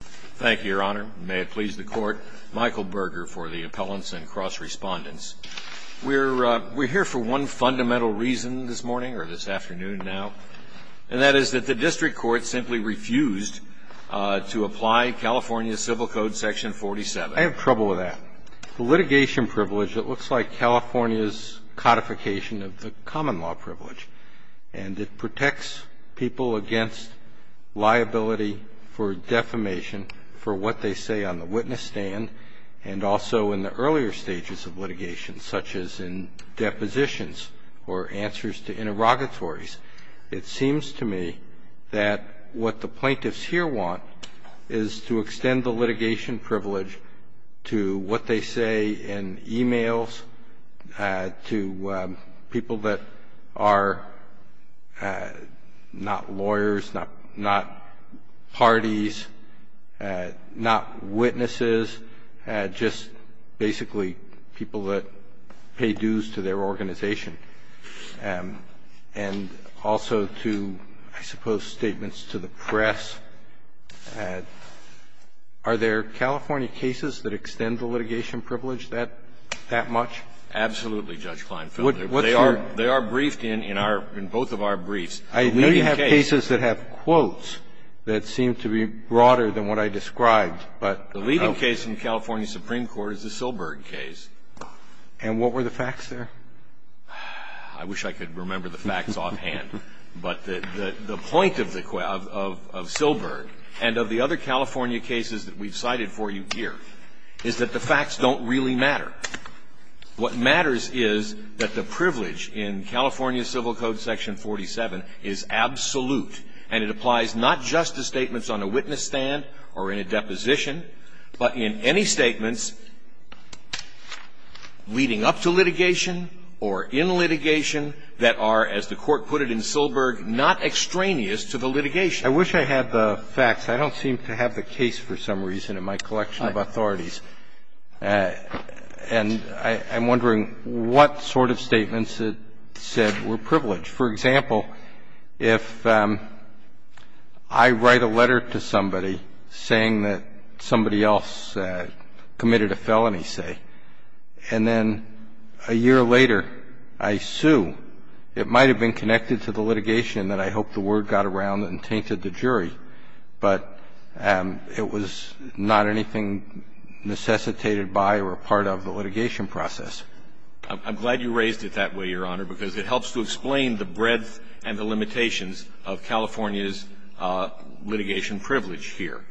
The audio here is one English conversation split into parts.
Thank you, your honor. May it please the court. Michael Berger for the appellants and cross respondents. We're we're here for one fundamental reason this morning or this afternoon now, and that is that the district court simply refused to apply California Civil Code Section 47. I have trouble with that litigation privilege. It looks like California's codification of the common law privilege, and it protects people against liability for defamation for what they say on the witness stand and also in the earlier stages of litigation, such as in depositions or answers to interrogatories. It seems to me that what the plaintiffs here want is to extend the litigation privilege to what they say in e-mails, to people that are not lawyers, not parties, not witnesses, just basically people that pay dues to their organization. And also to, I suppose, statements to the press. Are there California cases that extend the litigation privilege that much? Absolutely, Judge Kleinfelder. They are briefed in both of our briefs. I know you have cases that have quotes that seem to be broader than what I described, but no. The leading case in the California Supreme Court is the Silberg case. And what were the facts there? I wish I could remember the facts offhand. But the point of Silberg and of the other California cases that we've cited for you here is that the facts don't really matter. What matters is that the privilege in California Civil Code section 47 is absolute, and it applies not just to statements on a witness stand or in a deposition, but in any statements leading up to litigation, or in litigation, that are, as the Court put it in Silberg, not extraneous to the litigation. I wish I had the facts. I don't seem to have the case for some reason in my collection of authorities. And I'm wondering what sort of statements it said were privileged. For example, if I write a letter to somebody saying that somebody else committed a felony, say, and then a year later I sue, it might have been connected to the litigation, and then I hope the word got around and tainted the jury. But it was not anything necessitated by or a part of the litigation process. I'm glad you raised it that way, Your Honor, because it helps to explain the breadth and the limitations of California's litigation privilege here.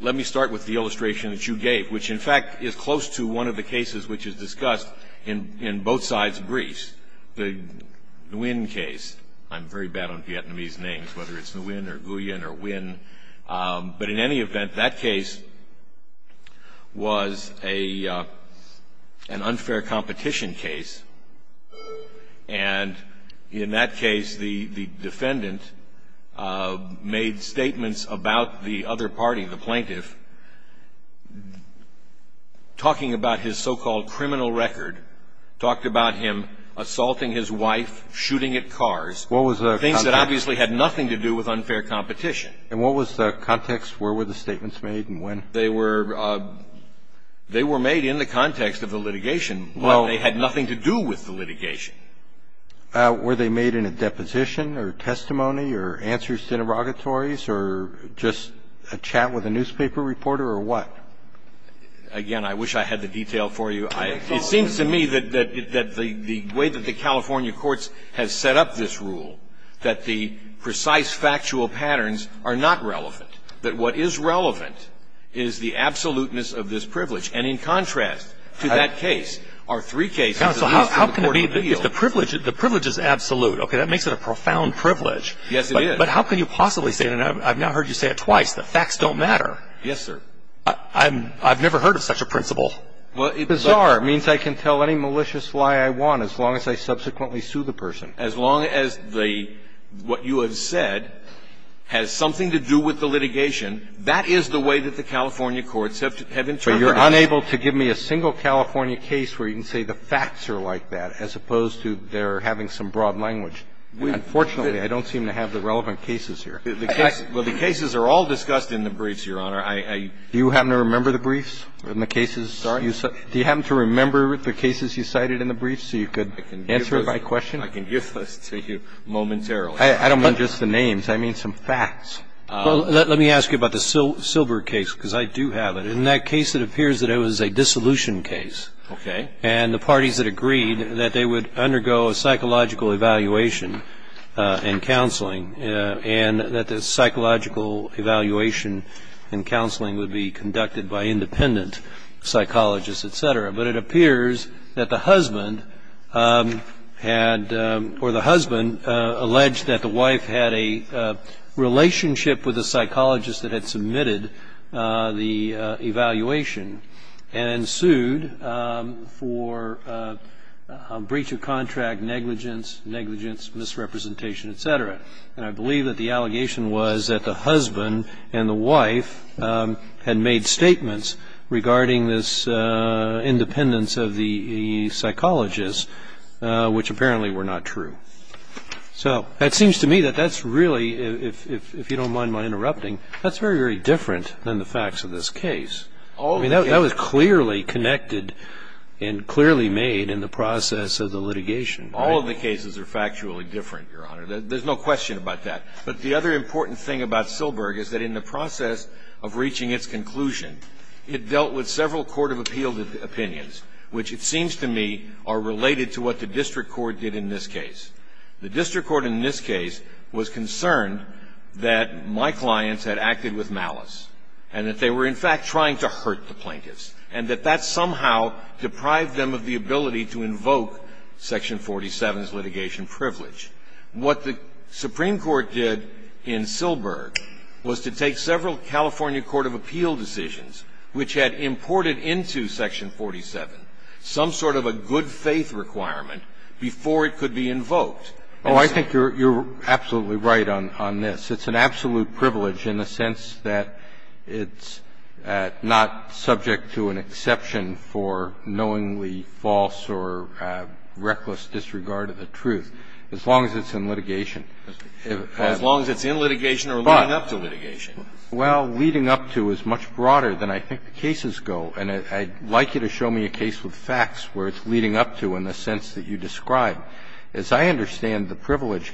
Let me start with the illustration that you gave, which, in fact, is close to one of the cases which is discussed in both sides of Greece, the Nguyen case. I'm very bad on Vietnamese names, whether it's Nguyen or Nguyen or Nguyen. But in any event, that case was an unfair competition case. And in that case, the defendant made statements about the other party, the plaintiff, talking about his so-called criminal record, talked about him assaulting his wife, shooting at cars, things that obviously had nothing to do with unfair competition. And what was the context? Where were the statements made and when? They were made in the context of the litigation, but they had nothing to do with the litigation. Were they made in a deposition or testimony or answers to interrogatories or just a chat with a newspaper reporter or what? Again, I wish I had the detail for you. It seems to me that the way that the California courts have set up this rule, that the precise factual patterns are not relevant. That what is relevant is the absoluteness of this privilege. And in contrast to that case, our three cases at least from the court of appeals. The privilege is absolute. Okay, that makes it a profound privilege. Yes, it is. But how can you possibly say that? I've now heard you say it twice. The facts don't matter. Yes, sir. I've never heard of such a principle. Bizarre means I can tell any malicious lie I want as long as I subsequently sue the person. As long as what you have said has something to do with the litigation, that is the way that the California courts have interpreted it. But you're unable to give me a single California case where you can say the facts are like that as opposed to they're having some broad language. Unfortunately, I don't seem to have the relevant cases here. Well, the cases are all discussed in the briefs, Your Honor. Do you happen to remember the briefs in the cases? Sorry? Do you happen to remember the cases you cited in the briefs so you could answer my question? I can give this to you momentarily. I don't mean just the names. I mean some facts. Well, let me ask you about the Silbert case because I do have it. In that case, it appears that it was a dissolution case. Okay. And the parties had agreed that they would undergo a psychological evaluation and counseling and that the psychological evaluation and counseling would be conducted by independent psychologists, et cetera. But it appears that the husband had or the husband alleged that the wife had a relationship with a psychologist that had submitted the evaluation and sued for breach of contract, negligence, negligence, misrepresentation, et cetera. And I believe that the allegation was that the husband and the wife had made statements regarding this independence of the psychologist, which apparently were not true. So it seems to me that that's really, if you don't mind my interrupting, that's very, very different than the facts of this case. I mean, that was clearly connected and clearly made in the process of the litigation. All of the cases are factually different, Your Honor. There's no question about that. But the other important thing about Silberg is that in the process of reaching its conclusion, it dealt with several court of appeal opinions, which it seems to me are related to what the district court did in this case. The district court in this case was concerned that my clients had acted with malice and that they were, in fact, trying to hurt the plaintiffs and that that somehow deprived them of the ability to invoke Section 47's litigation privilege. What the Supreme Court did in Silberg was to take several California court of appeal decisions which had imported into Section 47 some sort of a good faith requirement before it could be invoked. Oh, I think you're absolutely right on this. It's an absolute privilege in the sense that it's not subject to an exception for knowingly false or reckless disregard of the truth, as long as it's in litigation. As long as it's in litigation or leading up to litigation? Well, leading up to is much broader than I think the cases go. And I'd like you to show me a case with facts where it's leading up to in the sense that you describe. As I understand the privilege,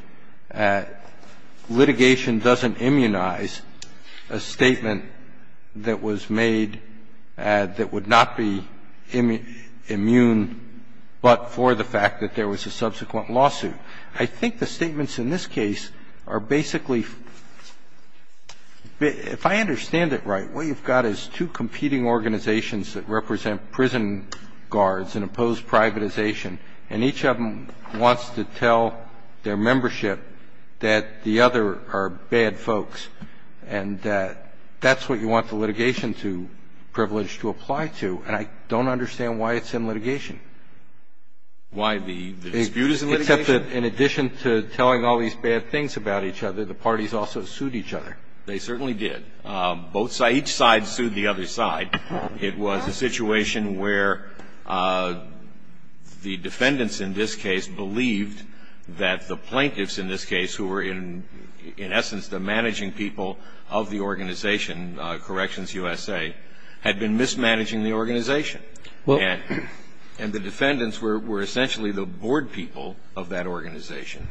litigation doesn't immunize a statement that was made that would not be immune but for the fact that there was a subsequent lawsuit. I think the statements in this case are basically, if I understand it right, what you've got is two competing organizations that represent prison guards and oppose privatization, and each of them wants to tell their membership that the other are bad folks, and that that's what you want the litigation privilege to apply to. And I don't understand why it's in litigation. Why the dispute is in litigation? Except that in addition to telling all these bad things about each other, the parties also sued each other. They certainly did. Both sides, each side sued the other side. It was a situation where the defendants in this case believed that the plaintiffs in this case who were in essence the managing people of the organization Corrections USA had been mismanaging the organization. And the defendants were essentially the board people of that organization.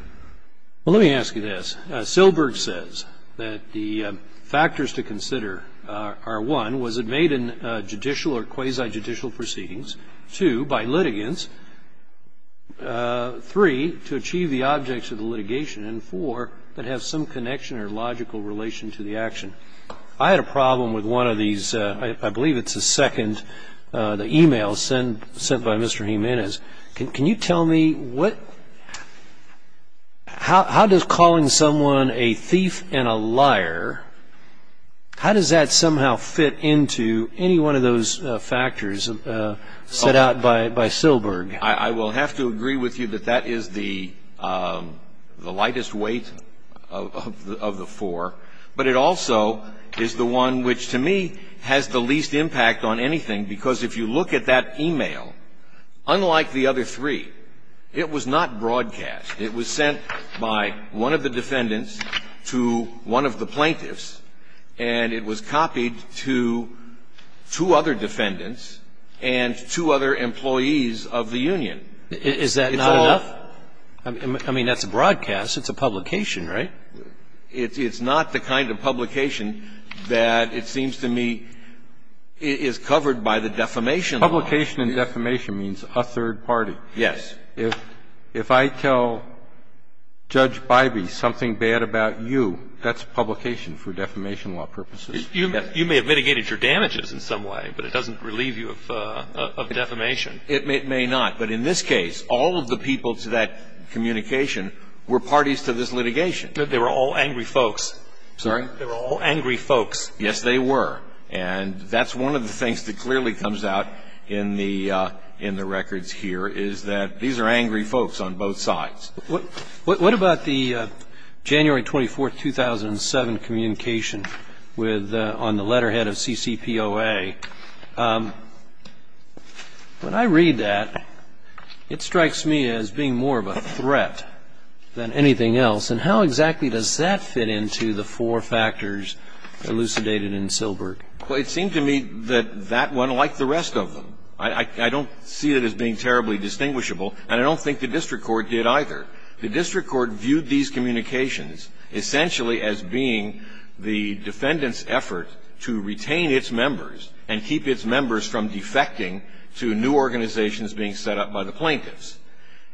Well, let me ask you this. Silberg says that the factors to consider are, one, was it made in judicial or quasi-judicial proceedings, two, by litigants, three, to achieve the objects of the litigation, and four, that have some connection or logical relation to the action. I had a problem with one of these. I believe it's the second, the e-mail sent by Mr. Jimenez. Can you tell me how does calling someone a thief and a liar, how does that somehow fit into any one of those factors set out by Silberg? I will have to agree with you that that is the lightest weight of the four. But it also is the one which to me has the least impact on anything, because if you look at that e-mail, unlike the other three, it was not broadcast. It was sent by one of the defendants to one of the plaintiffs, and it was copied to two other defendants and two other employees of the union. Is that not enough? I mean, that's a broadcast. It's a publication, right? It's not the kind of publication that it seems to me is covered by the defamation law. Publication and defamation means a third party. Yes. If I tell Judge Bybee something bad about you, that's publication for defamation law purposes. You may have mitigated your damages in some way, but it doesn't relieve you of defamation. It may not. But in this case, all of the people to that communication were parties to this litigation. They were all angry folks. Sorry? They were all angry folks. Yes, they were. And that's one of the things that clearly comes out in the records here, is that these are angry folks on both sides. What about the January 24, 2007 communication on the letterhead of CCPOA? When I read that, it strikes me as being more of a threat than anything else. And how exactly does that fit into the four factors elucidated in Silbert? Well, it seemed to me that that went like the rest of them. I don't see it as being terribly distinguishable, and I don't think the district court did either. The district court viewed these communications essentially as being the defendant's effort to retain its members and keep its members from defecting to new organizations being set up by the plaintiffs.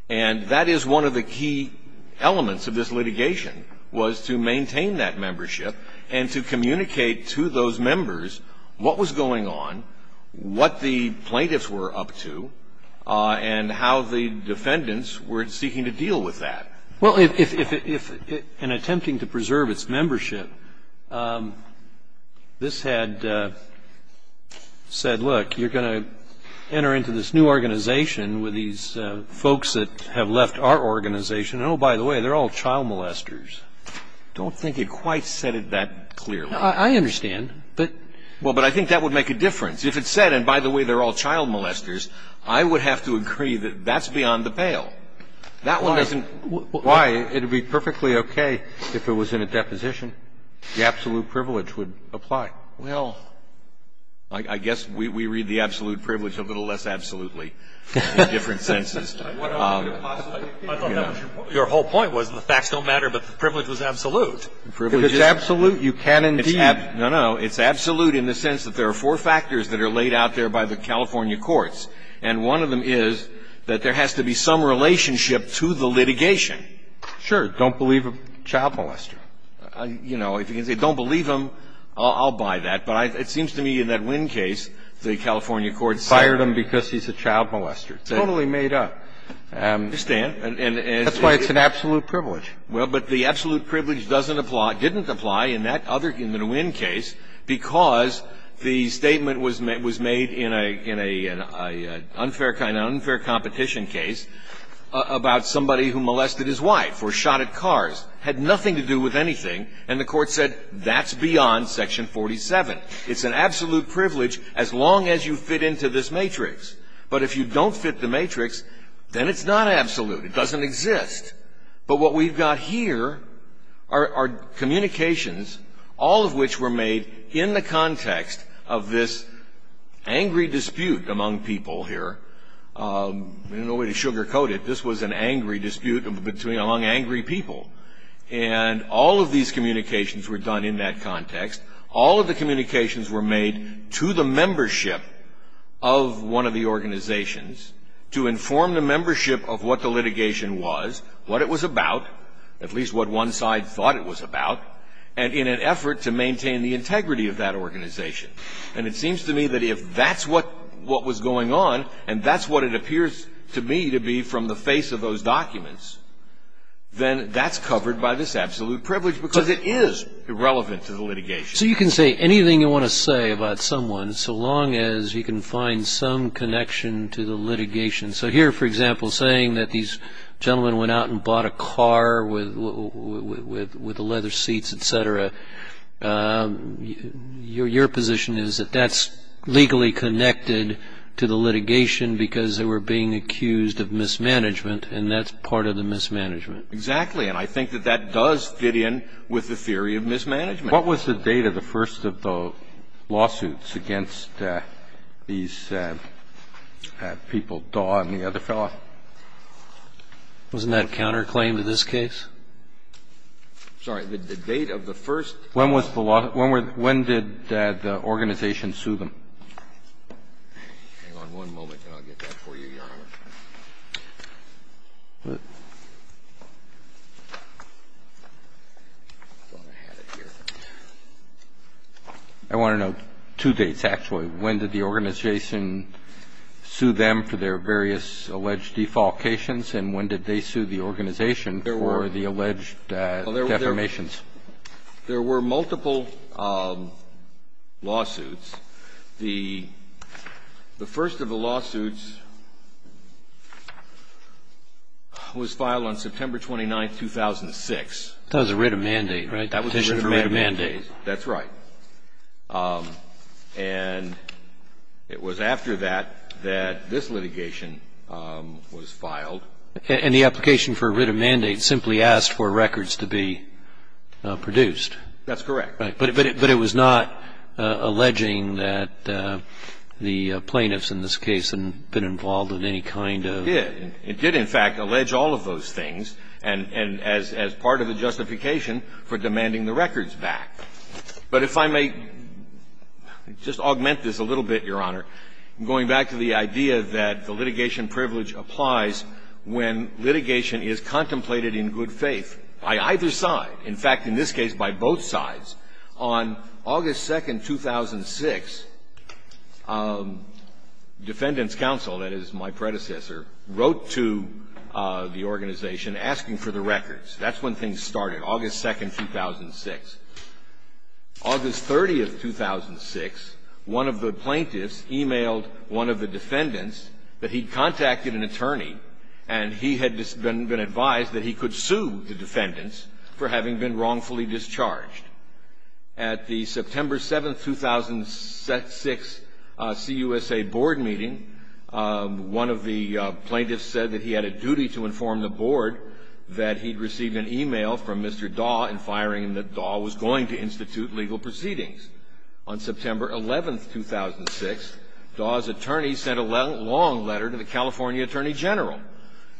And that is one of the key elements of this litigation, was to maintain that membership and to communicate to those members what was going on, what the plaintiffs were up to, and how the defendants were seeking to deal with that. Well, in attempting to preserve its membership, this had said, look, you're going to this new organization with these folks that have left our organization. Oh, by the way, they're all child molesters. I don't think it quite said it that clearly. I understand. Well, but I think that would make a difference. If it said, and by the way, they're all child molesters, I would have to agree that that's beyond the pale. Why? It would be perfectly okay if it was in a deposition. The absolute privilege would apply. Well, I guess we read the absolute privilege a little less absolutely in different senses. Your whole point was the facts don't matter, but the privilege was absolute. If it's absolute, you can indeed. No, no. It's absolute in the sense that there are four factors that are laid out there by the California courts, and one of them is that there has to be some relationship to the litigation. Sure. Don't believe a child molester. You know, if you can say don't believe him, I'll buy that. But it seems to me in that Winn case, the California courts said. Fired him because he's a child molester. Totally made up. I understand. That's why it's an absolute privilege. Well, but the absolute privilege doesn't apply, didn't apply in that other, in the Winn case, because the statement was made in a unfair competition case about somebody who molested his wife or shot at cars. Had nothing to do with anything. And the court said that's beyond Section 47. It's an absolute privilege as long as you fit into this matrix. But if you don't fit the matrix, then it's not absolute. It doesn't exist. But what we've got here are communications, all of which were made in the context of this angry dispute among people here. I don't know the way to sugarcoat it. This was an angry dispute between, among angry people. And all of these communications were done in that context. All of the communications were made to the membership of one of the organizations to inform the membership of what the litigation was, what it was about, at least what one side thought it was about, and in an effort to maintain the integrity of that organization. And it seems to me that if that's what was going on, and that's what it appears to me to be from the face of those documents, then that's covered by this absolute privilege because it is irrelevant to the litigation. So you can say anything you want to say about someone so long as you can find some connection to the litigation. So here, for example, saying that these gentlemen went out and bought a car with leather seats, et cetera, your position is that that's legally connected to the litigation because they were being accused of mismanagement, and that's part of the mismanagement. Exactly. And I think that that does fit in with the theory of mismanagement. What was the date of the first of the lawsuits against these people, Daw and the other fellow? Wasn't that counterclaimed in this case? Sorry. The date of the first. When was the lawsuit? When did the organization sue them? Hang on one moment, and I'll get that for you, Your Honor. I thought I had it here. I want to know two dates, actually. When did the organization sue them for their various alleged defalcations, and when did they sue the organization for the alleged defamations? There were multiple lawsuits. The first of the lawsuits was filed on September 29, 2006. That was a writ of mandate, right? That was a writ of mandate. A petition for a writ of mandate. That's right. And it was after that that this litigation was filed. And the application for a writ of mandate simply asked for records to be produced. That's correct. But it was not alleging that the plaintiffs in this case had been involved in any kind of ---- It did. It did, in fact, allege all of those things, and as part of the justification for demanding the records back. But if I may just augment this a little bit, Your Honor, going back to the idea that the litigation privilege applies when litigation is contemplated in good faith, by either side. In fact, in this case, by both sides. On August 2, 2006, defendants' counsel, that is my predecessor, wrote to the organization asking for the records. That's when things started, August 2, 2006. August 30, 2006, one of the plaintiffs emailed one of the defendants that he'd contacted an attorney, and he had been advised that he could sue the defendants for having been wrongfully discharged. At the September 7, 2006, CUSA board meeting, one of the plaintiffs said that he had a legal proceedings. On September 11, 2006, Daw's attorney sent a long letter to the California Attorney General,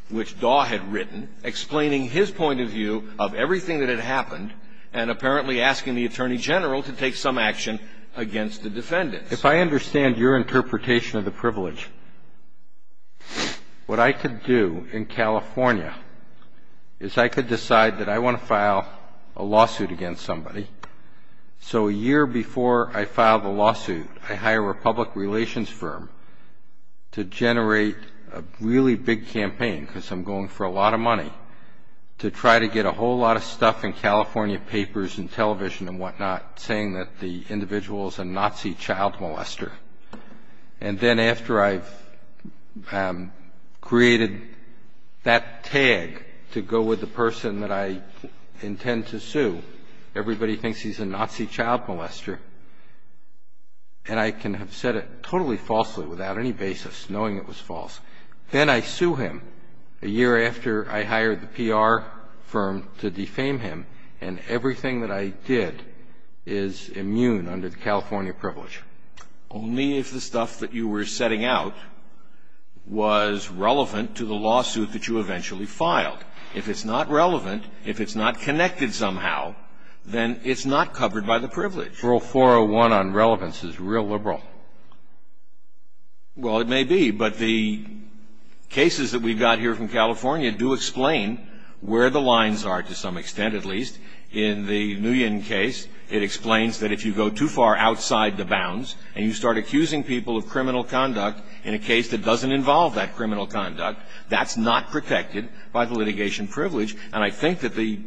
which Daw had written explaining his point of view of everything that had happened and apparently asking the Attorney General to take some action against the defendants. If I understand your interpretation of the privilege, what I could do in California is I could decide that I want to file a lawsuit against somebody. So a year before I file the lawsuit, I hire a public relations firm to generate a really big campaign, because I'm going for a lot of money, to try to get a whole lot of stuff in California papers and television and whatnot saying that the individual is a Nazi child molester. And then after I've created that tag to go with the person that I intend to sue, everybody thinks he's a Nazi child molester, and I can have said it totally falsely without any basis, knowing it was false. Then I sue him a year after I hire the PR firm to defame him, and everything that I did is immune under the California privilege. Only if the stuff that you were setting out was relevant to the lawsuit that you eventually filed. If it's not relevant, if it's not connected somehow, then it's not covered by the privilege. Rule 401 on relevance is real liberal. Well, it may be, but the cases that we've got here from California do explain where the lines are, to some extent at least. In the Nguyen case, it explains that if you go too far outside the bounds and you start accusing people of criminal conduct in a case that doesn't involve that criminal conduct, that's not protected by the litigation privilege. And I think that the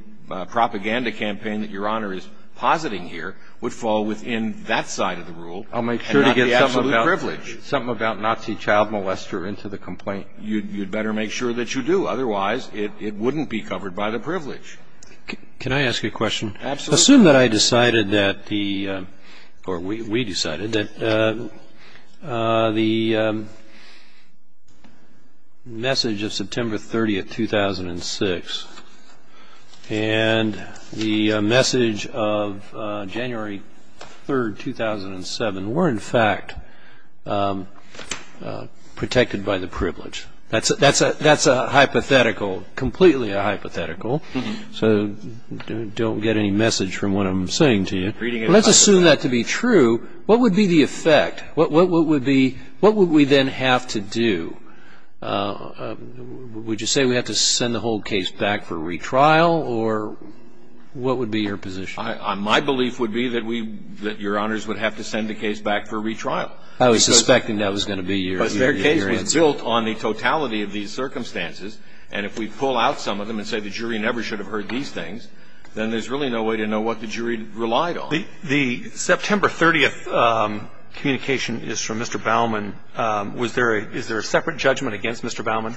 propaganda campaign that Your Honor is positing here would fall within that side of the rule and not the absolute privilege. I'll make sure to get something about Nazi child molester into the complaint. You'd better make sure that you do. Otherwise, it wouldn't be covered by the privilege. Can I ask you a question? Absolutely. Assume that I decided that the, or we decided, that the message of September 30, 2006, and the message of January 3, 2007, were in fact protected by the privilege. That's a hypothetical, completely a hypothetical. So don't get any message from what I'm saying to you. Let's assume that to be true. What would be the effect? What would we then have to do? Would you say we have to send the whole case back for retrial, or what would be your position? My belief would be that Your Honors would have to send the case back for retrial. I was suspecting that was going to be your answer. But the question is, is there some sort of reason? If the jury never should have heard these things, then there's really no way to know what the jury relied on. The September 30 communication is from Mr. Baumann. Was there a – is there a separate judgment against Mr. Baumann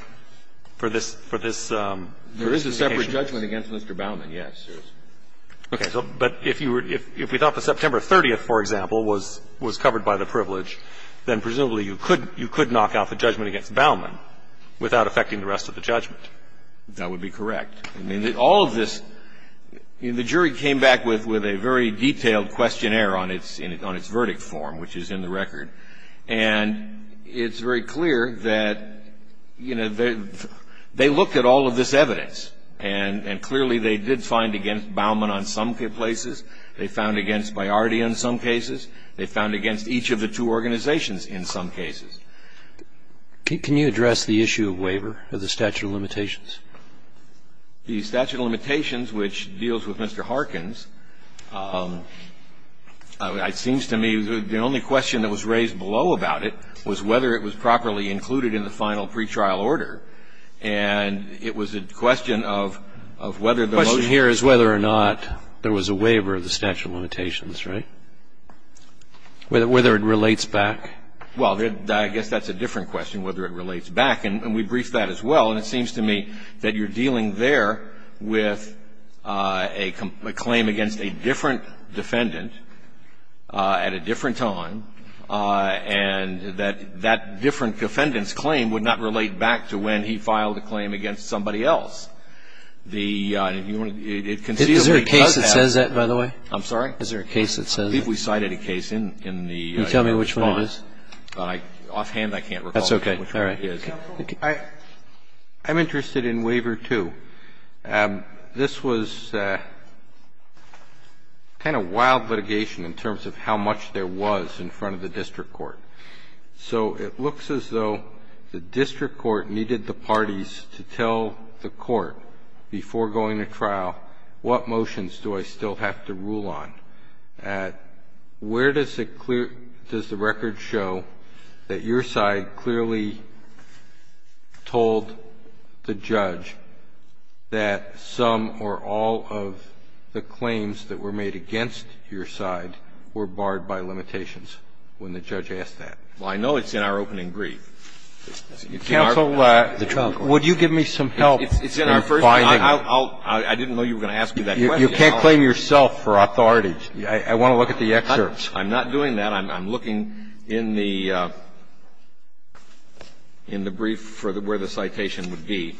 for this – for this communication? There is a separate judgment against Mr. Baumann, yes. Okay. But if you were – if we thought the September 30, for example, was covered by the privilege, then presumably you could knock out the judgment against Baumann without affecting the rest of the judgment. That would be correct. I mean, all of this – the jury came back with a very detailed questionnaire on its verdict form, which is in the record. And it's very clear that, you know, they looked at all of this evidence, and clearly they did find against Baumann on some places. They found against Bayardi on some cases. They found against each of the two organizations in some cases. Can you address the issue of waiver of the statute of limitations? The statute of limitations, which deals with Mr. Harkins, it seems to me the only question that was raised below about it was whether it was properly included in the final pretrial order. And it was a question of whether the motion was properly included. The question here is whether or not there was a waiver of the statute of limitations, right? Whether it relates back. Well, I guess that's a different question, whether it relates back. And we briefed that as well. And it seems to me that you're dealing there with a claim against a different defendant at a different time, and that that different defendant's claim would not relate back to when he filed a claim against somebody else. It conceivably does that. Is there a case that says that, by the way? I'm sorry? Is there a case that says that? I believe we cited a case in the response. Can you tell me which one it is? Offhand, I can't recall which one it is. That's okay. All right. I'm interested in Waiver 2. This was kind of wild litigation in terms of how much there was in front of the district court. So it looks as though the district court needed the parties to tell the court before going to trial, what motions do I still have to rule on? Where does the record show that your side clearly told the judge that some or all of the claims that were made against your side were barred by limitations when the judge asked that? Well, I know it's in our opening brief. Counsel, would you give me some help in finding? I didn't know you were going to ask me that question. You can't claim yourself for authority. I want to look at the excerpts. I'm not doing that. I'm looking in the brief for where the citation would be.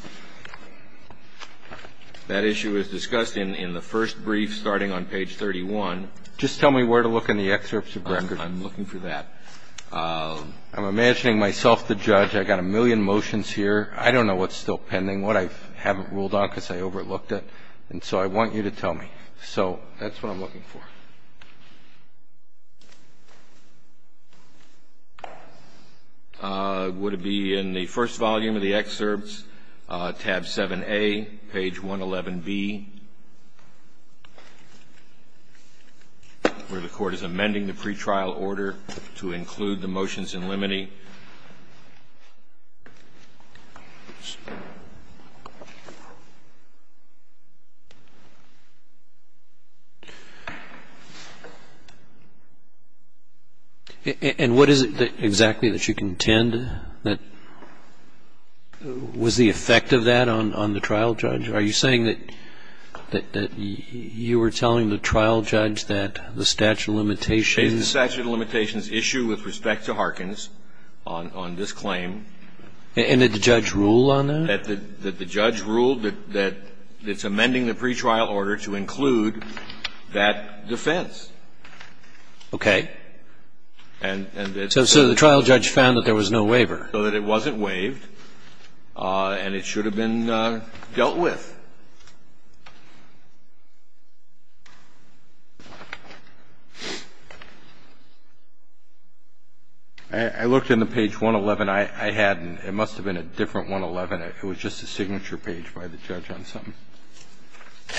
That issue is discussed in the first brief starting on page 31. Just tell me where to look in the excerpts of the record. I'm looking for that. I'm imagining myself the judge. I've got a million motions here. I don't know what's still pending, what I haven't ruled on because I overlooked it. And so I want you to tell me. So that's what I'm looking for. Would it be in the first volume of the excerpts, tab 7A, page 111B, where the court is amending the pretrial order to include the motions in limine? And what is it exactly that you contend? Was the effect of that on the trial judge? Are you saying that you were telling the trial judge that the statute of limitations issue with respect to Harkins on this claim? And that the judge ruled on that? That the judge ruled that it's amending the pretrial order to include that defense. Okay. So the trial judge found that there was no waiver. So that it wasn't waived and it should have been dealt with. I looked in the page 111. I hadn't. It must have been a different 111. It was just a signature page by the judge on something.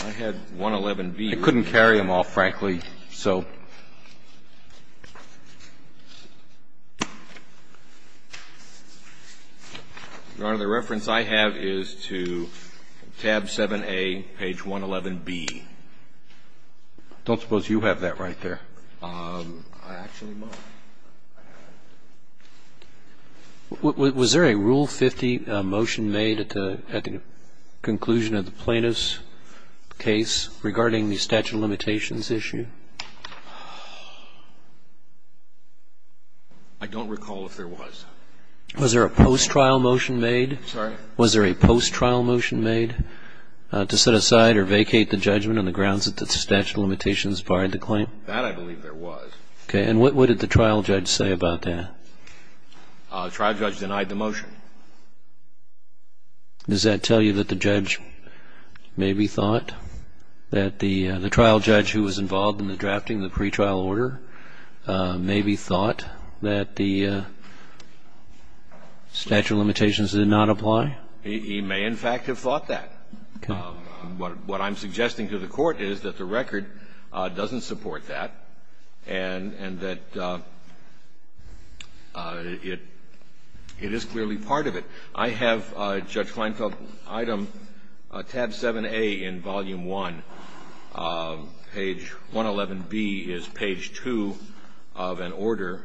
I had 111B. I couldn't carry them all, frankly. So, Your Honor, the reference I have is to tab 7A, page 111B. I don't suppose you have that right there. I actually might. Was there a Rule 50 motion made at the conclusion of the plaintiff's case regarding the statute of limitations issue? I don't recall if there was. Was there a post-trial motion made? Sorry? Was there a post-trial motion made to set aside or vacate the judgment on the grounds that the statute of limitations barred the claim? That I believe there was. Okay. And what did the trial judge say about that? The trial judge denied the motion. Does that tell you that the judge maybe thought that the trial judge who was involved in the drafting of the pretrial order maybe thought that the statute of limitations did not apply? He may, in fact, have thought that. Okay. What I'm suggesting to the Court is that the record doesn't support that, and that it is clearly part of it. I have, Judge Kleinfeld, item tab 7A in volume 1, page 111B is page 2 of an order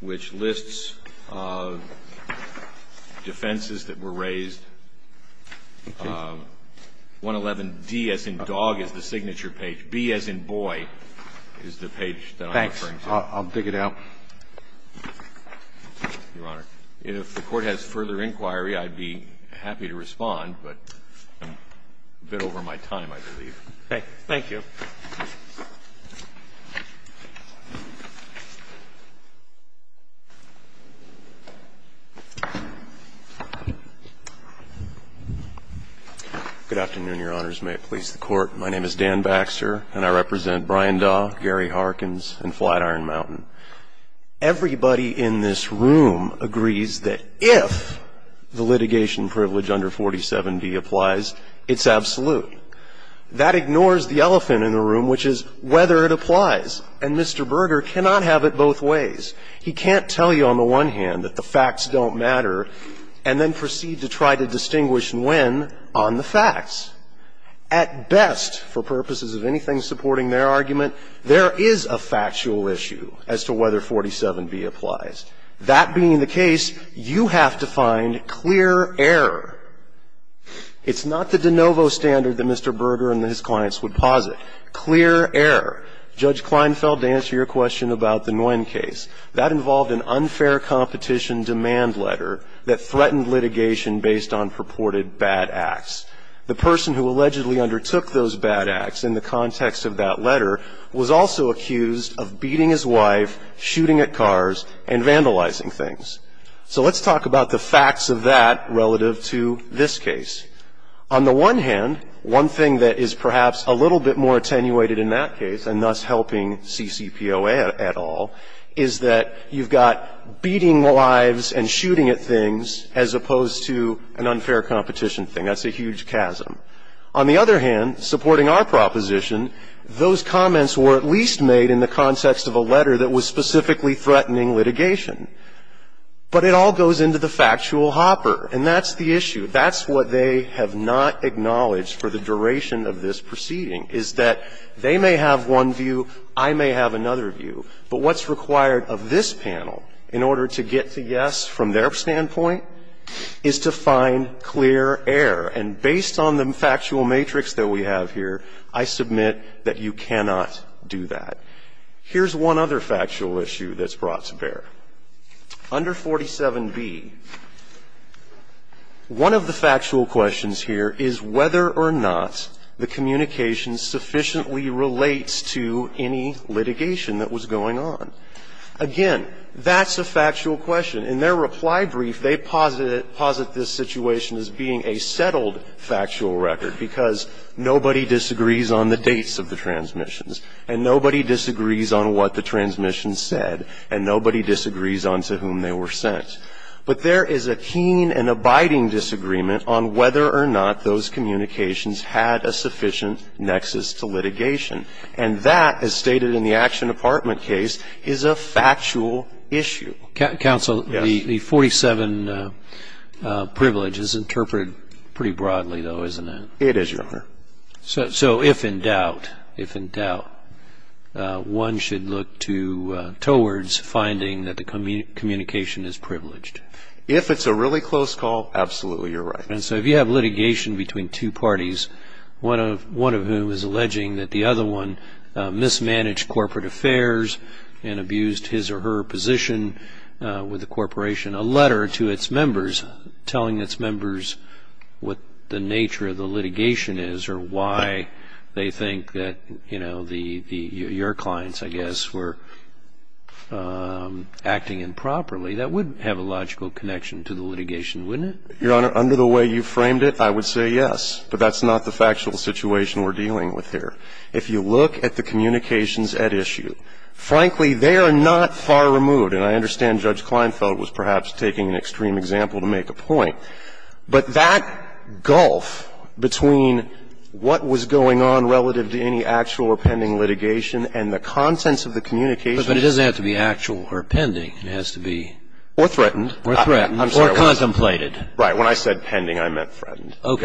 which lists defenses that were raised. Okay. And this is the page that I'm referring to, 111B. I'm sorry, 111D as in dog is the signature page, B as in boy is the page that I'm referring to. Thanks. I'll dig it out. Your Honor, if the Court has further inquiry, I'd be happy to respond, but I'm a bit over my time, I believe. Thank you. Good afternoon, Your Honors. May it please the Court. My name is Dan Baxter, and I represent Brian Daw, Gary Harkins, and Flatiron Mountain. Everybody in this room agrees that if the litigation privilege under 47B applies, it's absolute. That ignores the elephant in the room, which is whether it applies. And Mr. Berger cannot have it both ways. He can't tell you on the one hand that the facts don't matter and then proceed to try to distinguish when on the facts. At best, for purposes of anything supporting their argument, there is a factual issue as to whether 47B applies. That being the case, you have to find clear error. It's not the de novo standard that Mr. Berger and his clients would posit. Clear error. Judge Kleinfeld, to answer your question about the Nguyen case, that involved an unfair competition demand letter that threatened litigation based on purported bad acts. The person who allegedly undertook those bad acts in the context of that letter was also accused of beating his wife, shooting at cars, and vandalizing things. So let's talk about the facts of that relative to this case. On the one hand, one thing that is perhaps a little bit more attenuated in that case, and thus helping CCPOA at all, is that you've got beating lives and shooting at things as opposed to an unfair competition thing. That's a huge chasm. On the other hand, supporting our proposition, those comments were at least made in the context of a letter that was specifically threatening litigation. But it all goes into the factual hopper. And that's the issue. That's what they have not acknowledged for the duration of this proceeding, is that they may have one view, I may have another view. But what's required of this panel in order to get the yes from their standpoint is to find clear error. And based on the factual matrix that we have here, I submit that you cannot do that. Here's one other factual issue that's brought to bear. Under 47B, one of the factual questions here is whether or not the communication sufficiently relates to any litigation that was going on. Again, that's a factual question. In their reply brief, they posit this situation as being a settled factual record, because nobody disagrees on the dates of the transmissions, and nobody disagrees on what the transmission said, and nobody disagrees on to whom they were sent. But there is a keen and abiding disagreement on whether or not those communications had a sufficient nexus to litigation. And that, as stated in the Action Department case, is a factual issue. Counsel, the 47 privilege is interpreted pretty broadly, though, isn't it? It is, Your Honor. So if in doubt, one should look towards finding that the communication is privileged. If it's a really close call, absolutely, you're right. And so if you have litigation between two parties, one of whom is alleging that the other one mismanaged corporate affairs and abused his or her position with the corporation, a letter to its members telling its members what the nature of the litigation is or why they think that, you know, your clients, I guess, were acting improperly, that would have a logical connection to the litigation, wouldn't it? Your Honor, under the way you framed it, I would say yes. But that's not the factual situation we're dealing with here. If you look at the communications at issue, frankly, they are not far removed. And I understand Judge Kleinfeld was perhaps taking an extreme example to make a point. But that gulf between what was going on relative to any actual or pending litigation and the contents of the communications. But it doesn't have to be actual or pending. It has to be. Or threatened. Or threatened. Or contemplated. When I said pending, I meant threatened. All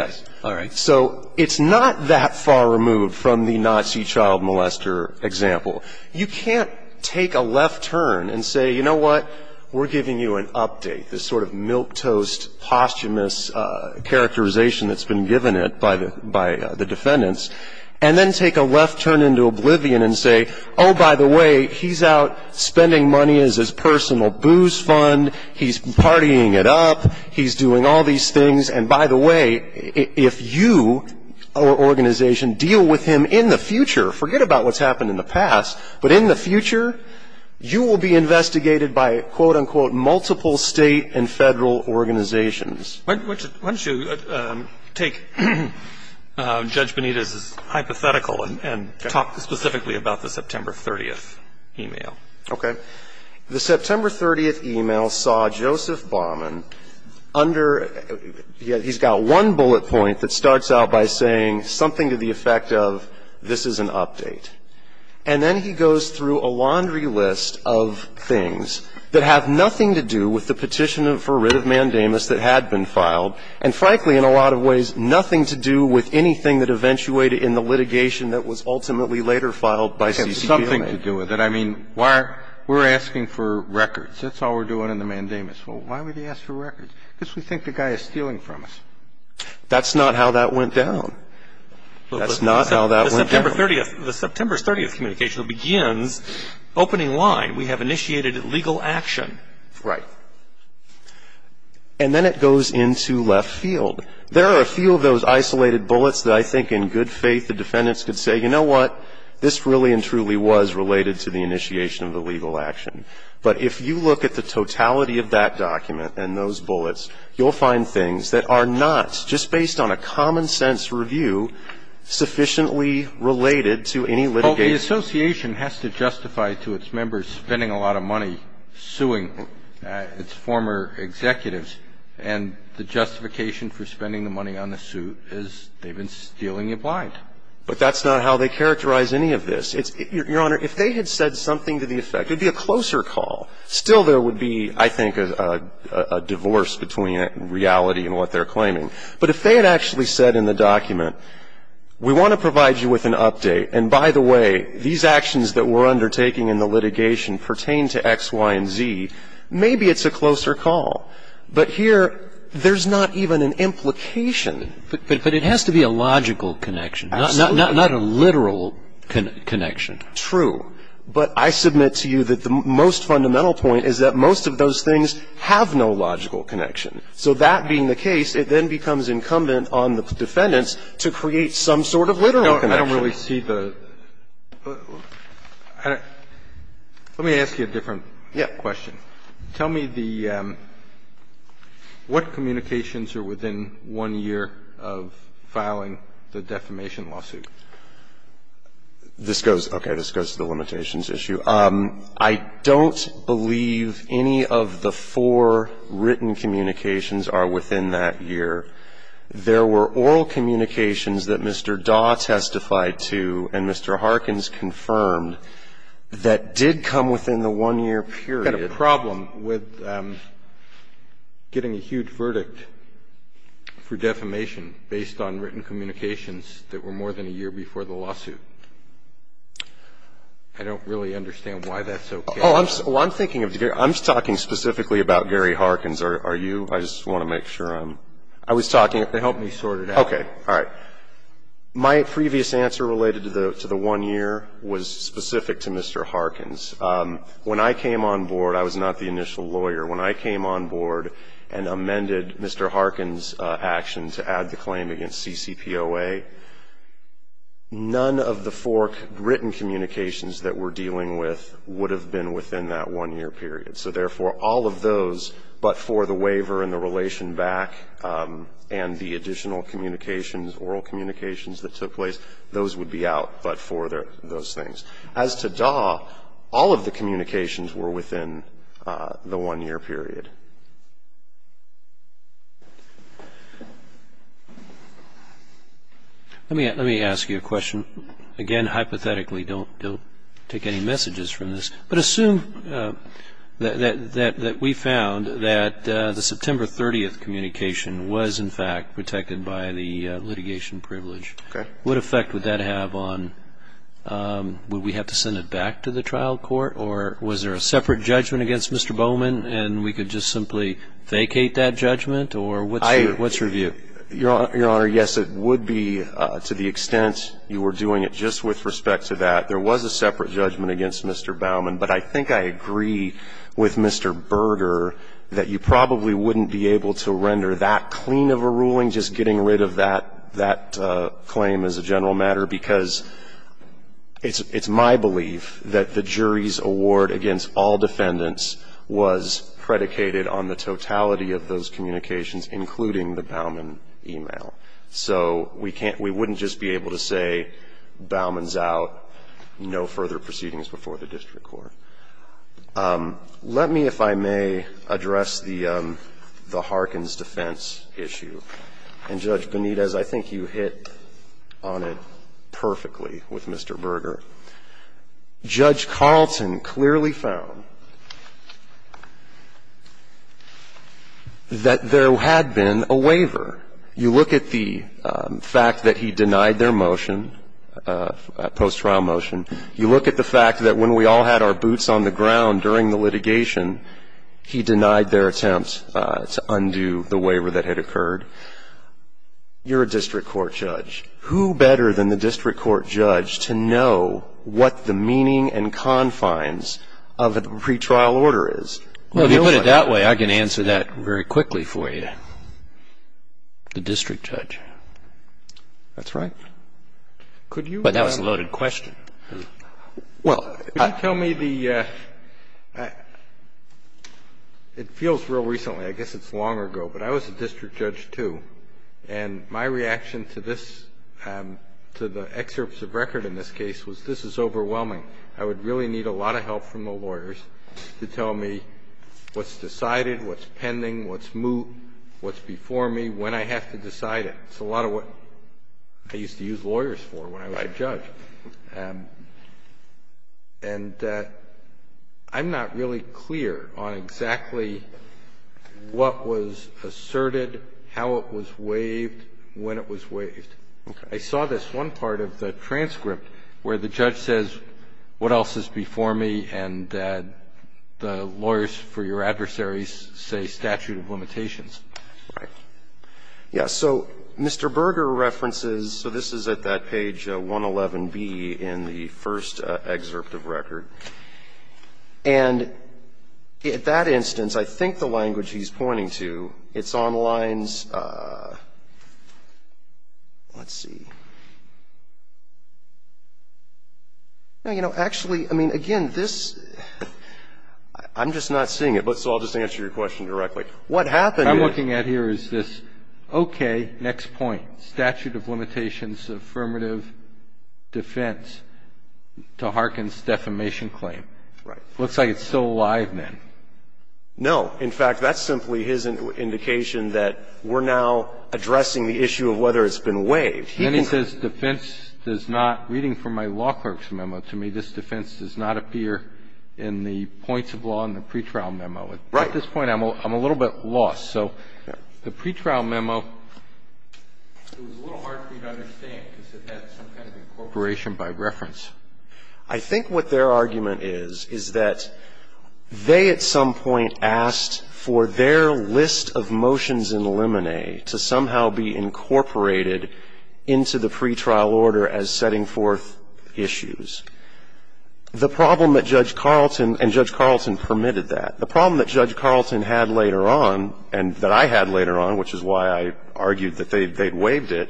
right. So it's not that far removed from the Nazi child molester example. You can't take a left turn and say, you know what, we're giving you an update, this sort of milquetoast posthumous characterization that's been given it by the defendants, and then take a left turn into oblivion and say, oh, by the way, he's out spending money as his personal booze fund, he's partying it up, he's doing all these things. And, by the way, if you, our organization, deal with him in the future, forget about what's happened in the past, but in the future, you will be investigated by, quote, unquote, multiple state and federal organizations. Why don't you take Judge Benitez's hypothetical and talk specifically about the September 30th email. Okay. The September 30th email saw Joseph Baumann under he's got one bullet point that starts out by saying something to the effect of this is an update. And then he goes through a laundry list of things that have nothing to do with the petition for writ of mandamus that had been filed, and frankly, in a lot of ways, nothing to do with anything that eventuated in the litigation that was ultimately later filed by CCDMA. Something to do with it. I mean, we're asking for records. That's all we're doing in the mandamus. Well, why would he ask for records? Because we think the guy is stealing from us. That's not how that went down. That's not how that went down. The September 30th communication begins opening line. We have initiated legal action. Right. And then it goes into left field. There are a few of those isolated bullets that I think in good faith the defendants could say, you know what, this really and truly was related to the initiation of the legal action. But if you look at the totality of that document and those bullets, you'll find things that are not, just based on a common sense review, sufficiently related to any litigation. Well, the association has to justify to its members spending a lot of money suing its former executives, and the justification for spending the money on the suit is they've been stealing it blind. But that's not how they characterize any of this. Your Honor, if they had said something to the effect, it would be a closer call. Still, there would be, I think, a divorce between reality and what they're claiming. But if they had actually said in the document, we want to provide you with an update, and by the way, these actions that we're undertaking in the litigation pertain to X, Y, and Z, maybe it's a closer call. But here, there's not even an implication. But it has to be a logical connection. Absolutely. Not a literal connection. True. But I submit to you that the most fundamental point is that most of those things have no logical connection. So that being the case, it then becomes incumbent on the defendants to create some sort of literal connection. I don't really see the – let me ask you a different question. Yes. Tell me the – what communications are within one year of filing the defamation lawsuit? This goes – okay. This goes to the limitations issue. I don't believe any of the four written communications are within that year. There were oral communications that Mr. Daw testified to and Mr. Harkins confirmed that did come within the one-year period. I've got a problem with getting a huge verdict for defamation based on written communications that were more than a year before the lawsuit. I don't really understand why that's okay. Oh, I'm thinking of – I'm talking specifically about Gary Harkins. Are you? I just want to make sure I'm – I was talking – Help me sort it out. Okay. All right. My previous answer related to the one year was specific to Mr. Harkins. When I came on board, I was not the initial lawyer. When I came on board and amended Mr. Harkins' action to add the claim against CCPOA, none of the four written communications that we're dealing with would have been within that one-year period. So, therefore, all of those but for the waiver and the relation back and the additional communications, oral communications that took place, those would be out but for those things. As to DAW, all of the communications were within the one-year period. Let me ask you a question. Again, hypothetically, don't take any messages from this, but assume that we found that the September 30th communication was, in fact, protected by the litigation privilege. Okay. What effect would that have on – would we have to send it back to the trial court or was there a separate judgment against Mr. Bowman and we could just simply vacate that judgment or what's your view? Your Honor, yes, it would be to the extent you were doing it just with respect to that. There was a separate judgment against Mr. Bowman, but I think I agree with Mr. Berger that you probably wouldn't be able to render that clean of a ruling just getting rid of that claim as a general matter because it's my belief that the jury's award against all defendants was predicated on the totality of those communications, including the Bowman email. So we can't – we wouldn't just be able to say, Bowman's out, no further proceedings before the district court. Let me, if I may, address the Harkin's defense issue. And, Judge Benitez, I think you hit on it perfectly with Mr. Berger. Judge Carlton clearly found that there had been a waiver. You look at the fact that he denied their motion, post-trial motion. You look at the fact that when we all had our boots on the ground during the litigation, he denied their attempt to undo the waiver that had occurred. You're a district court judge. Who better than the district court judge to know what the meaning and confines of a pretrial order is? If you put it that way, I can answer that very quickly for you. The district judge. That's right. But that was a loaded question. Well, I tell me the – it feels real recently. I guess it's long ago. But I was a district judge, too. And my reaction to this, to the excerpts of record in this case, was this is overwhelming. I would really need a lot of help from the lawyers to tell me what's decided, what's pending, what's before me, when I have to decide it. It's a lot of what I used to use lawyers for when I was a judge. And I'm not really clear on exactly what was asserted, how it was waived, when it was waived. I saw this one part of the transcript where the judge says, what else is before me, and the lawyers for your adversaries say statute of limitations. Right. Yeah. So Mr. Berger references, so this is at that page 111B in the first excerpt of record. And at that instance, I think the language he's pointing to, it's on lines – let's see. No, you know, actually, I mean, again, this – I'm just not seeing it. So I'll just answer your question directly. What happened is – What I'm looking at here is this, okay, next point. Statute of limitations, affirmative defense to Harkin's defamation claim. Right. Looks like it's still alive then. No. In fact, that's simply his indication that we're now addressing the issue of whether it's been waived. Then he says defense does not – reading from my law clerk's memo to me, this defense does not appear in the points of law in the pretrial memo. Right. At this point, I'm a little bit lost. So the pretrial memo, it was a little hard for you to understand because it had some kind of incorporation by reference. I think what their argument is, is that they at some point asked for their list of motions in the lemonade to somehow be incorporated into the pretrial order as setting forth issues. The problem that Judge Carlton – and Judge Carlton permitted that. The problem that Judge Carlton had later on, and that I had later on, which is why I argued that they'd waived it,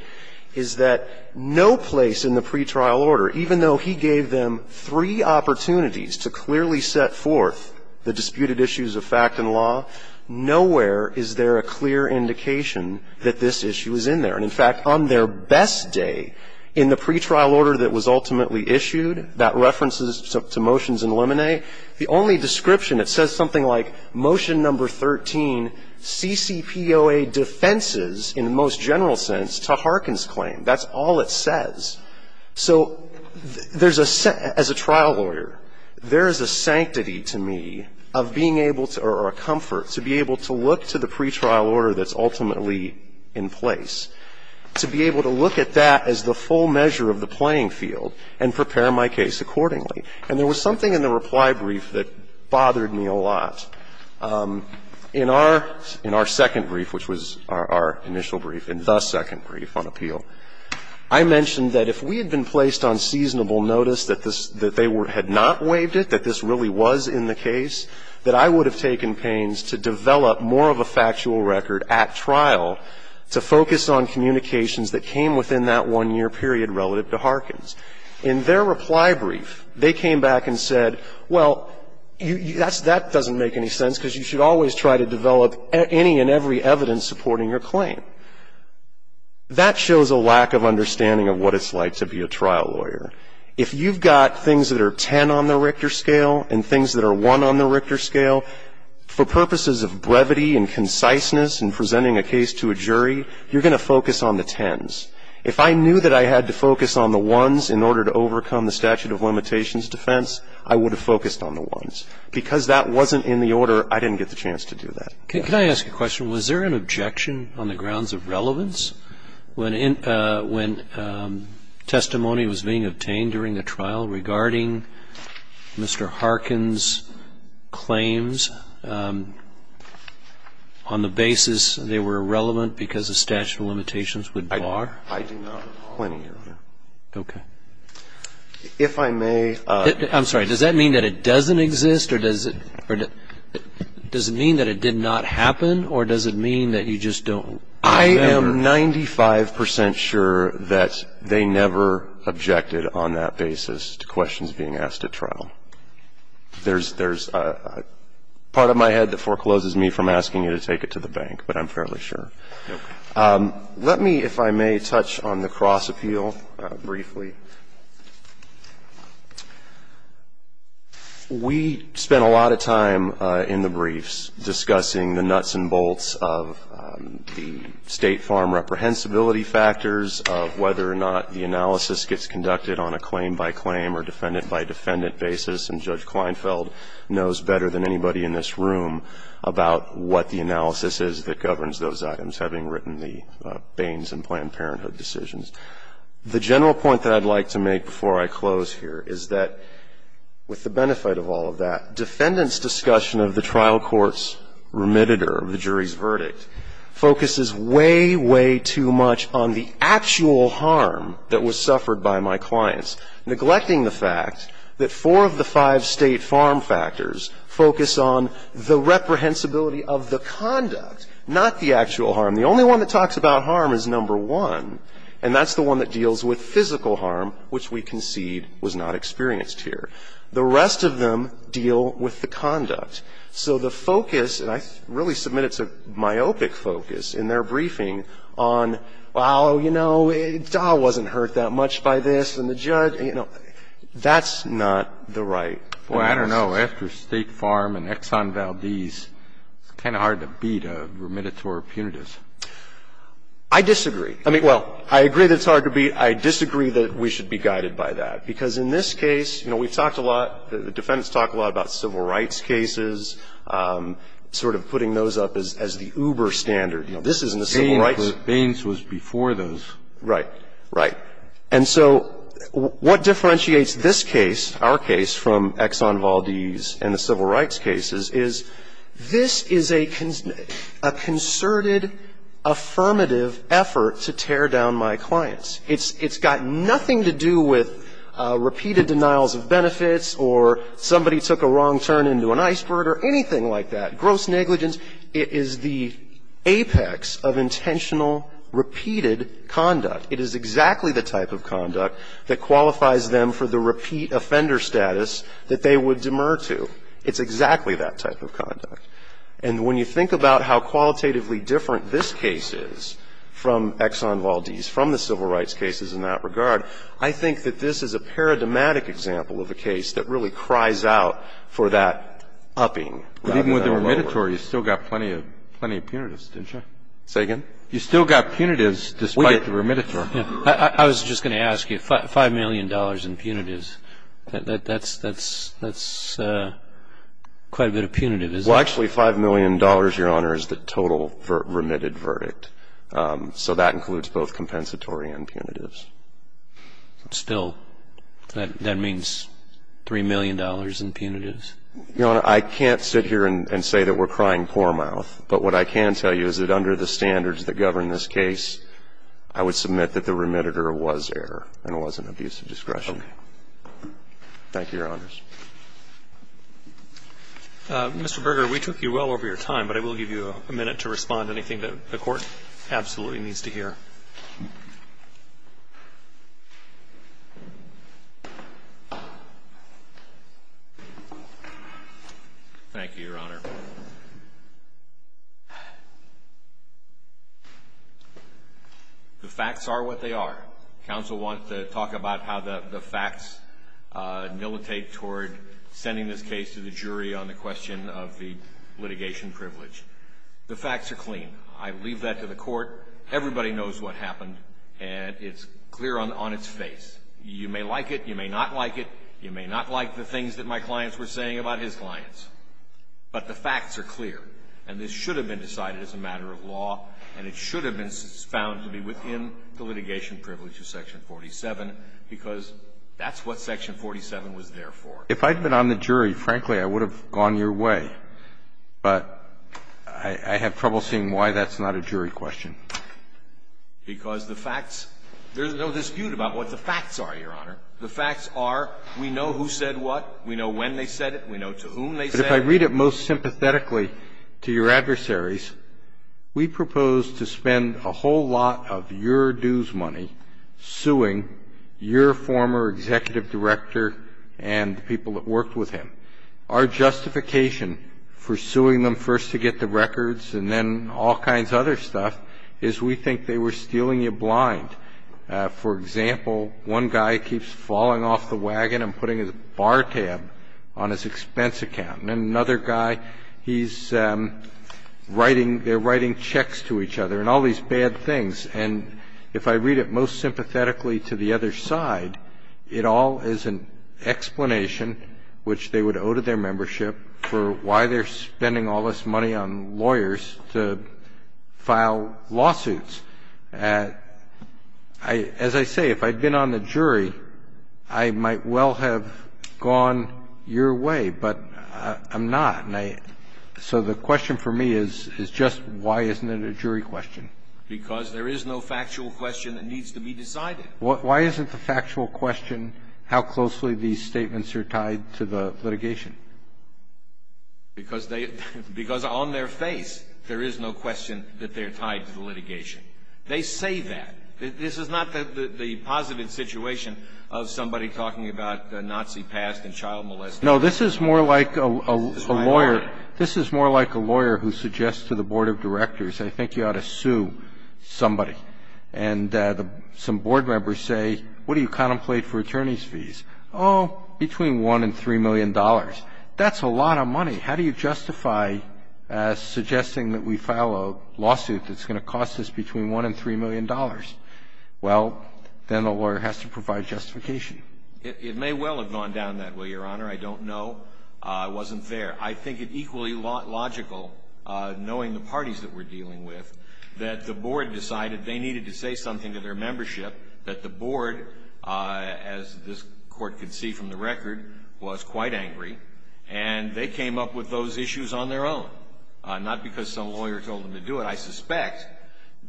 is that no place in the pretrial order, even though he gave them three opportunities to clearly set forth the disputed issues of fact and law, nowhere is there a clear indication that this issue is in there. And in fact, on their best day in the pretrial order that was ultimately issued, that references to motions in lemonade, the only description, it says something like, Motion No. 13, CCPOA defenses in the most general sense to Harkin's claim. That's all it says. So there's a – as a trial lawyer, there is a sanctity to me of being able to – or a comfort to be able to look to the pretrial order that's ultimately in place, to be able to look at that as the full measure of the playing field and prepare my case accordingly. And there was something in the reply brief that bothered me a lot. In our – in our second brief, which was our initial brief and the second brief on appeal, I mentioned that if we had been placed on seasonable notice that this – that they were – had not waived it, that this really was in the case, that I would have taken pains to develop more of a factual record at trial to focus on communications that came within that one-year period relative to Harkin's. In their reply brief, they came back and said, well, you – that's – that doesn't make any sense because you should always try to develop any and every evidence supporting your claim. That shows a lack of understanding of what it's like to be a trial lawyer. If you've got things that are 10 on the Richter scale and things that are 1 on the Richter scale, for purposes of brevity and conciseness in presenting a case to a jury, you're going to focus on the 10s. If I knew that I had to focus on the 1s in order to overcome the statute of limitations defense, I would have focused on the 1s. Because that wasn't in the order, I didn't get the chance to do that. Can I ask a question? Was there an objection on the grounds of relevance when – when testimony was being obtained during the trial regarding Mr. Harkin's claims on the basis they were relevant because the statute of limitations would bar? I do not at all. Plenty, Your Honor. Okay. If I may – I'm sorry. Does that mean that it doesn't exist or does it – does it mean that it did not happen or does it mean that you just don't remember? I am 95 percent sure that they never objected on that basis to questions being asked at trial. There's – there's part of my head that forecloses me from asking you to take it to the bank, but I'm fairly sure. Okay. Let me, if I may, touch on the cross appeal briefly. We spent a lot of time in the briefs discussing the nuts and bolts of the State Farm reprehensibility factors, of whether or not the analysis gets conducted on a claim by claim or defendant by defendant basis. And Judge Kleinfeld knows better than anybody in this room about what the analysis is that governs those items, having written the Baines and Planned Parenthood decisions. The general point that I'd like to make before I close here is that, with the benefit of all of that, defendants' discussion of the trial court's remitter, the jury's verdict, focuses way, way too much on the actual harm that was suffered by my clients, neglecting the fact that four of the five State Farm factors focus on the reprehensibility of the conduct, not the actual harm. The only one that talks about harm is number one, and that's the one that deals with physical harm, which we concede was not experienced here. The rest of them deal with the conduct. So the focus, and I really submit it's a myopic focus in their briefing on, well, you know, it wasn't hurt that much by this, and the judge, you know, that's not the right analysis. Breyer, I don't know. After State Farm and Exxon Valdez, it's kind of hard to beat a remittor punitive. I disagree. I mean, well, I agree that it's hard to beat. I disagree that we should be guided by that, because in this case, you know, we've talked a lot, the defendants talk a lot about civil rights cases, sort of putting those up as the uber standard. You know, this isn't a civil rights case. Baines was before those. Right. Right. And so what differentiates this case, our case, from Exxon Valdez and the civil rights cases is this is a concerted, affirmative effort to tear down my clients. It's got nothing to do with repeated denials of benefits or somebody took a wrong turn into an iceberg or anything like that. Gross negligence is the apex of intentional, repeated conduct. It is exactly the type of conduct that qualifies them for the repeat offender status that they would demur to. It's exactly that type of conduct. And when you think about how qualitatively different this case is from Exxon Valdez, from the civil rights cases in that regard, I think that this is a paradigmatic example of a case that really cries out for that upping rather than a lower. But even with the remittor, you still got plenty of punitives, didn't you? Say again? You still got punitives despite the remittor. I was just going to ask you, $5 million in punitives. That's quite a bit of punitive, isn't it? Well, actually, $5 million, Your Honor, is the total remitted verdict. So that includes both compensatory and punitives. Still, that means $3 million in punitives? Your Honor, I can't sit here and say that we're crying poor mouth. But what I can tell you is that under the standards that govern this case, I would submit that the remittor was error and it wasn't abuse of discretion. Okay. Thank you, Your Honors. Mr. Berger, we took you well over your time, but I will give you a minute to respond to anything that the Court absolutely needs to hear. Thank you, Your Honor. Your Honor, the facts are what they are. Counsel wants to talk about how the facts militate toward sending this case to the jury on the question of the litigation privilege. The facts are clean. I leave that to the Court. Everybody knows what happened, and it's clear on its face. You may like it. You may not like it. You may not like the things that my clients were saying about his clients. But the facts are clear, and this should have been decided as a matter of law, and it should have been found to be within the litigation privilege of Section 47 because that's what Section 47 was there for. If I'd been on the jury, frankly, I would have gone your way. But I have trouble seeing why that's not a jury question. Because the facts – there's no dispute about what the facts are, Your Honor. The facts are we know who said what. We know when they said it. We know to whom they said it. But if I read it most sympathetically to your adversaries, we propose to spend a whole lot of your dues money suing your former executive director and the people that worked with him. Our justification for suing them first to get the records and then all kinds of other stuff is we think they were stealing you blind. For example, one guy keeps falling off the wagon and putting his bar tab on his expense account. And another guy, he's writing – they're writing checks to each other and all these bad things. And if I read it most sympathetically to the other side, it all is an explanation, which they would owe to their membership, for why they're spending all this money on lawyers to file lawsuits. As I say, if I'd been on the jury, I might well have gone your way, but I'm not. And I – so the question for me is just why isn't it a jury question? Because there is no factual question that needs to be decided. Why isn't the factual question how closely these statements are tied to the litigation? Because they – because on their face, there is no question that they're tied to the litigation. They say that. This is not the positive situation of somebody talking about the Nazi past and child molestation. No, this is more like a lawyer. This is more like a lawyer who suggests to the board of directors, I think you ought to sue somebody. And some board members say, what do you contemplate for attorneys' fees? Oh, between $1 and $3 million. That's a lot of money. How do you justify suggesting that we file a lawsuit that's going to cost us between $1 and $3 million? Well, then the lawyer has to provide justification. It may well have gone down that way, Your Honor. I don't know. It wasn't there. I think it's equally logical, knowing the parties that we're dealing with, that the board decided they needed to say something to their membership, that the board, as this Court could see from the record, was quite angry. And they came up with those issues on their own, not because some lawyer told them to do it. I suspect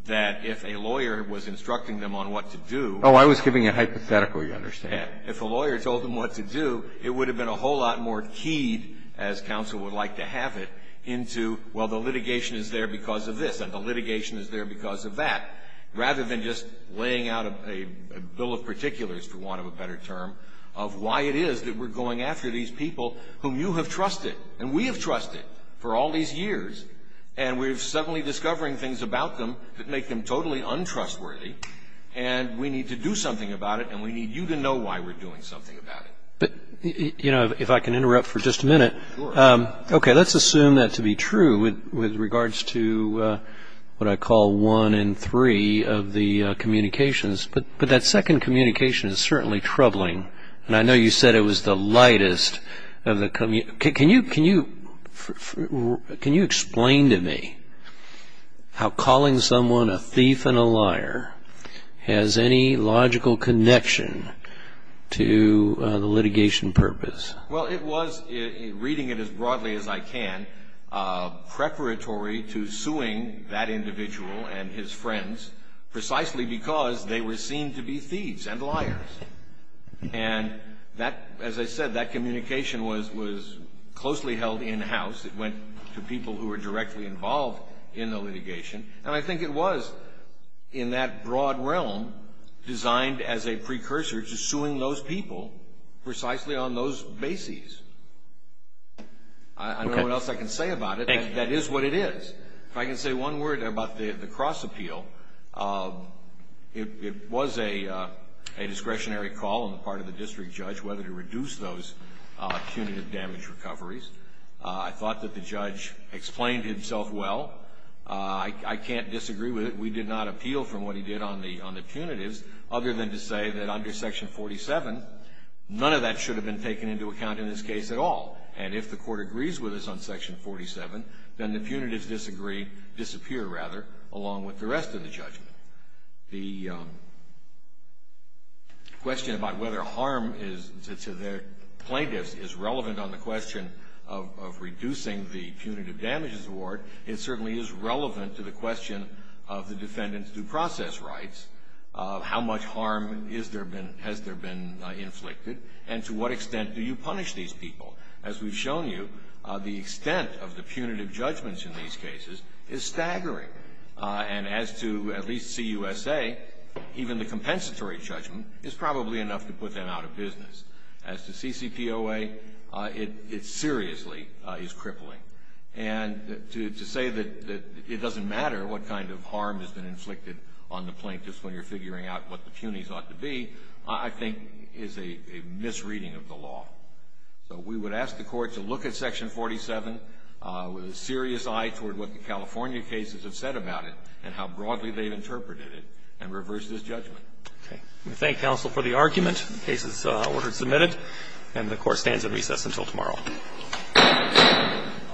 that if a lawyer was instructing them on what to do. Oh, I was giving a hypothetical. You understand. If a lawyer told them what to do, it would have been a whole lot more keyed, as counsel would like to have it, into, well, the litigation is there because of this and the litigation is there because of that, rather than just laying out a bill of particulars, for want of a better term, of why it is that we're going after these people whom you have trusted and we have trusted for all these years, and we're suddenly discovering things about them that make them totally untrustworthy, and we need to do something about it, and we need you to know why we're doing something about it. But, you know, if I can interrupt for just a minute. Sure. Okay, let's assume that to be true with regards to what I call one in three of the communications. But that second communication is certainly troubling, and I know you said it was the lightest. Can you explain to me how calling someone a thief and a liar has any logical connection to the litigation purpose? Well, it was, reading it as broadly as I can, preparatory to suing that individual and his friends precisely because they were seen to be thieves and liars. And that, as I said, that communication was closely held in-house. It went to people who were directly involved in the litigation. And I think it was, in that broad realm, designed as a precursor to suing those people precisely on those bases. Okay. I don't know what else I can say about it. Thank you. That is what it is. If I can say one word about the cross-appeal, it was a discretionary call on the part of the district judge whether to reduce those punitive damage recoveries. I thought that the judge explained himself well. I can't disagree with it. We did not appeal from what he did on the punitives, other than to say that under Section 47, none of that should have been taken into account in this case at all. And if the court agrees with us on Section 47, then the punitives disappear along with the rest of the judgment. The question about whether harm to the plaintiffs is relevant on the question of reducing the punitive damages award, it certainly is relevant to the question of the defendant's due process rights, how much harm has there been inflicted, and to what extent do you punish these people. As we've shown you, the extent of the punitive judgments in these cases is staggering. And as to at least CUSA, even the compensatory judgment is probably enough to put them out of business. As to CCPOA, it seriously is crippling. And to say that it doesn't matter what kind of harm has been inflicted on the plaintiffs when you're figuring out what the punies ought to be, I think is a misreading of the law. So we would ask the Court to look at Section 47 with a serious eye toward what the California cases have said about it and how broadly they've interpreted it and reverse this judgment. Okay. We thank counsel for the argument. The case is ordered and submitted. And the Court stands in recess until tomorrow. Thank you.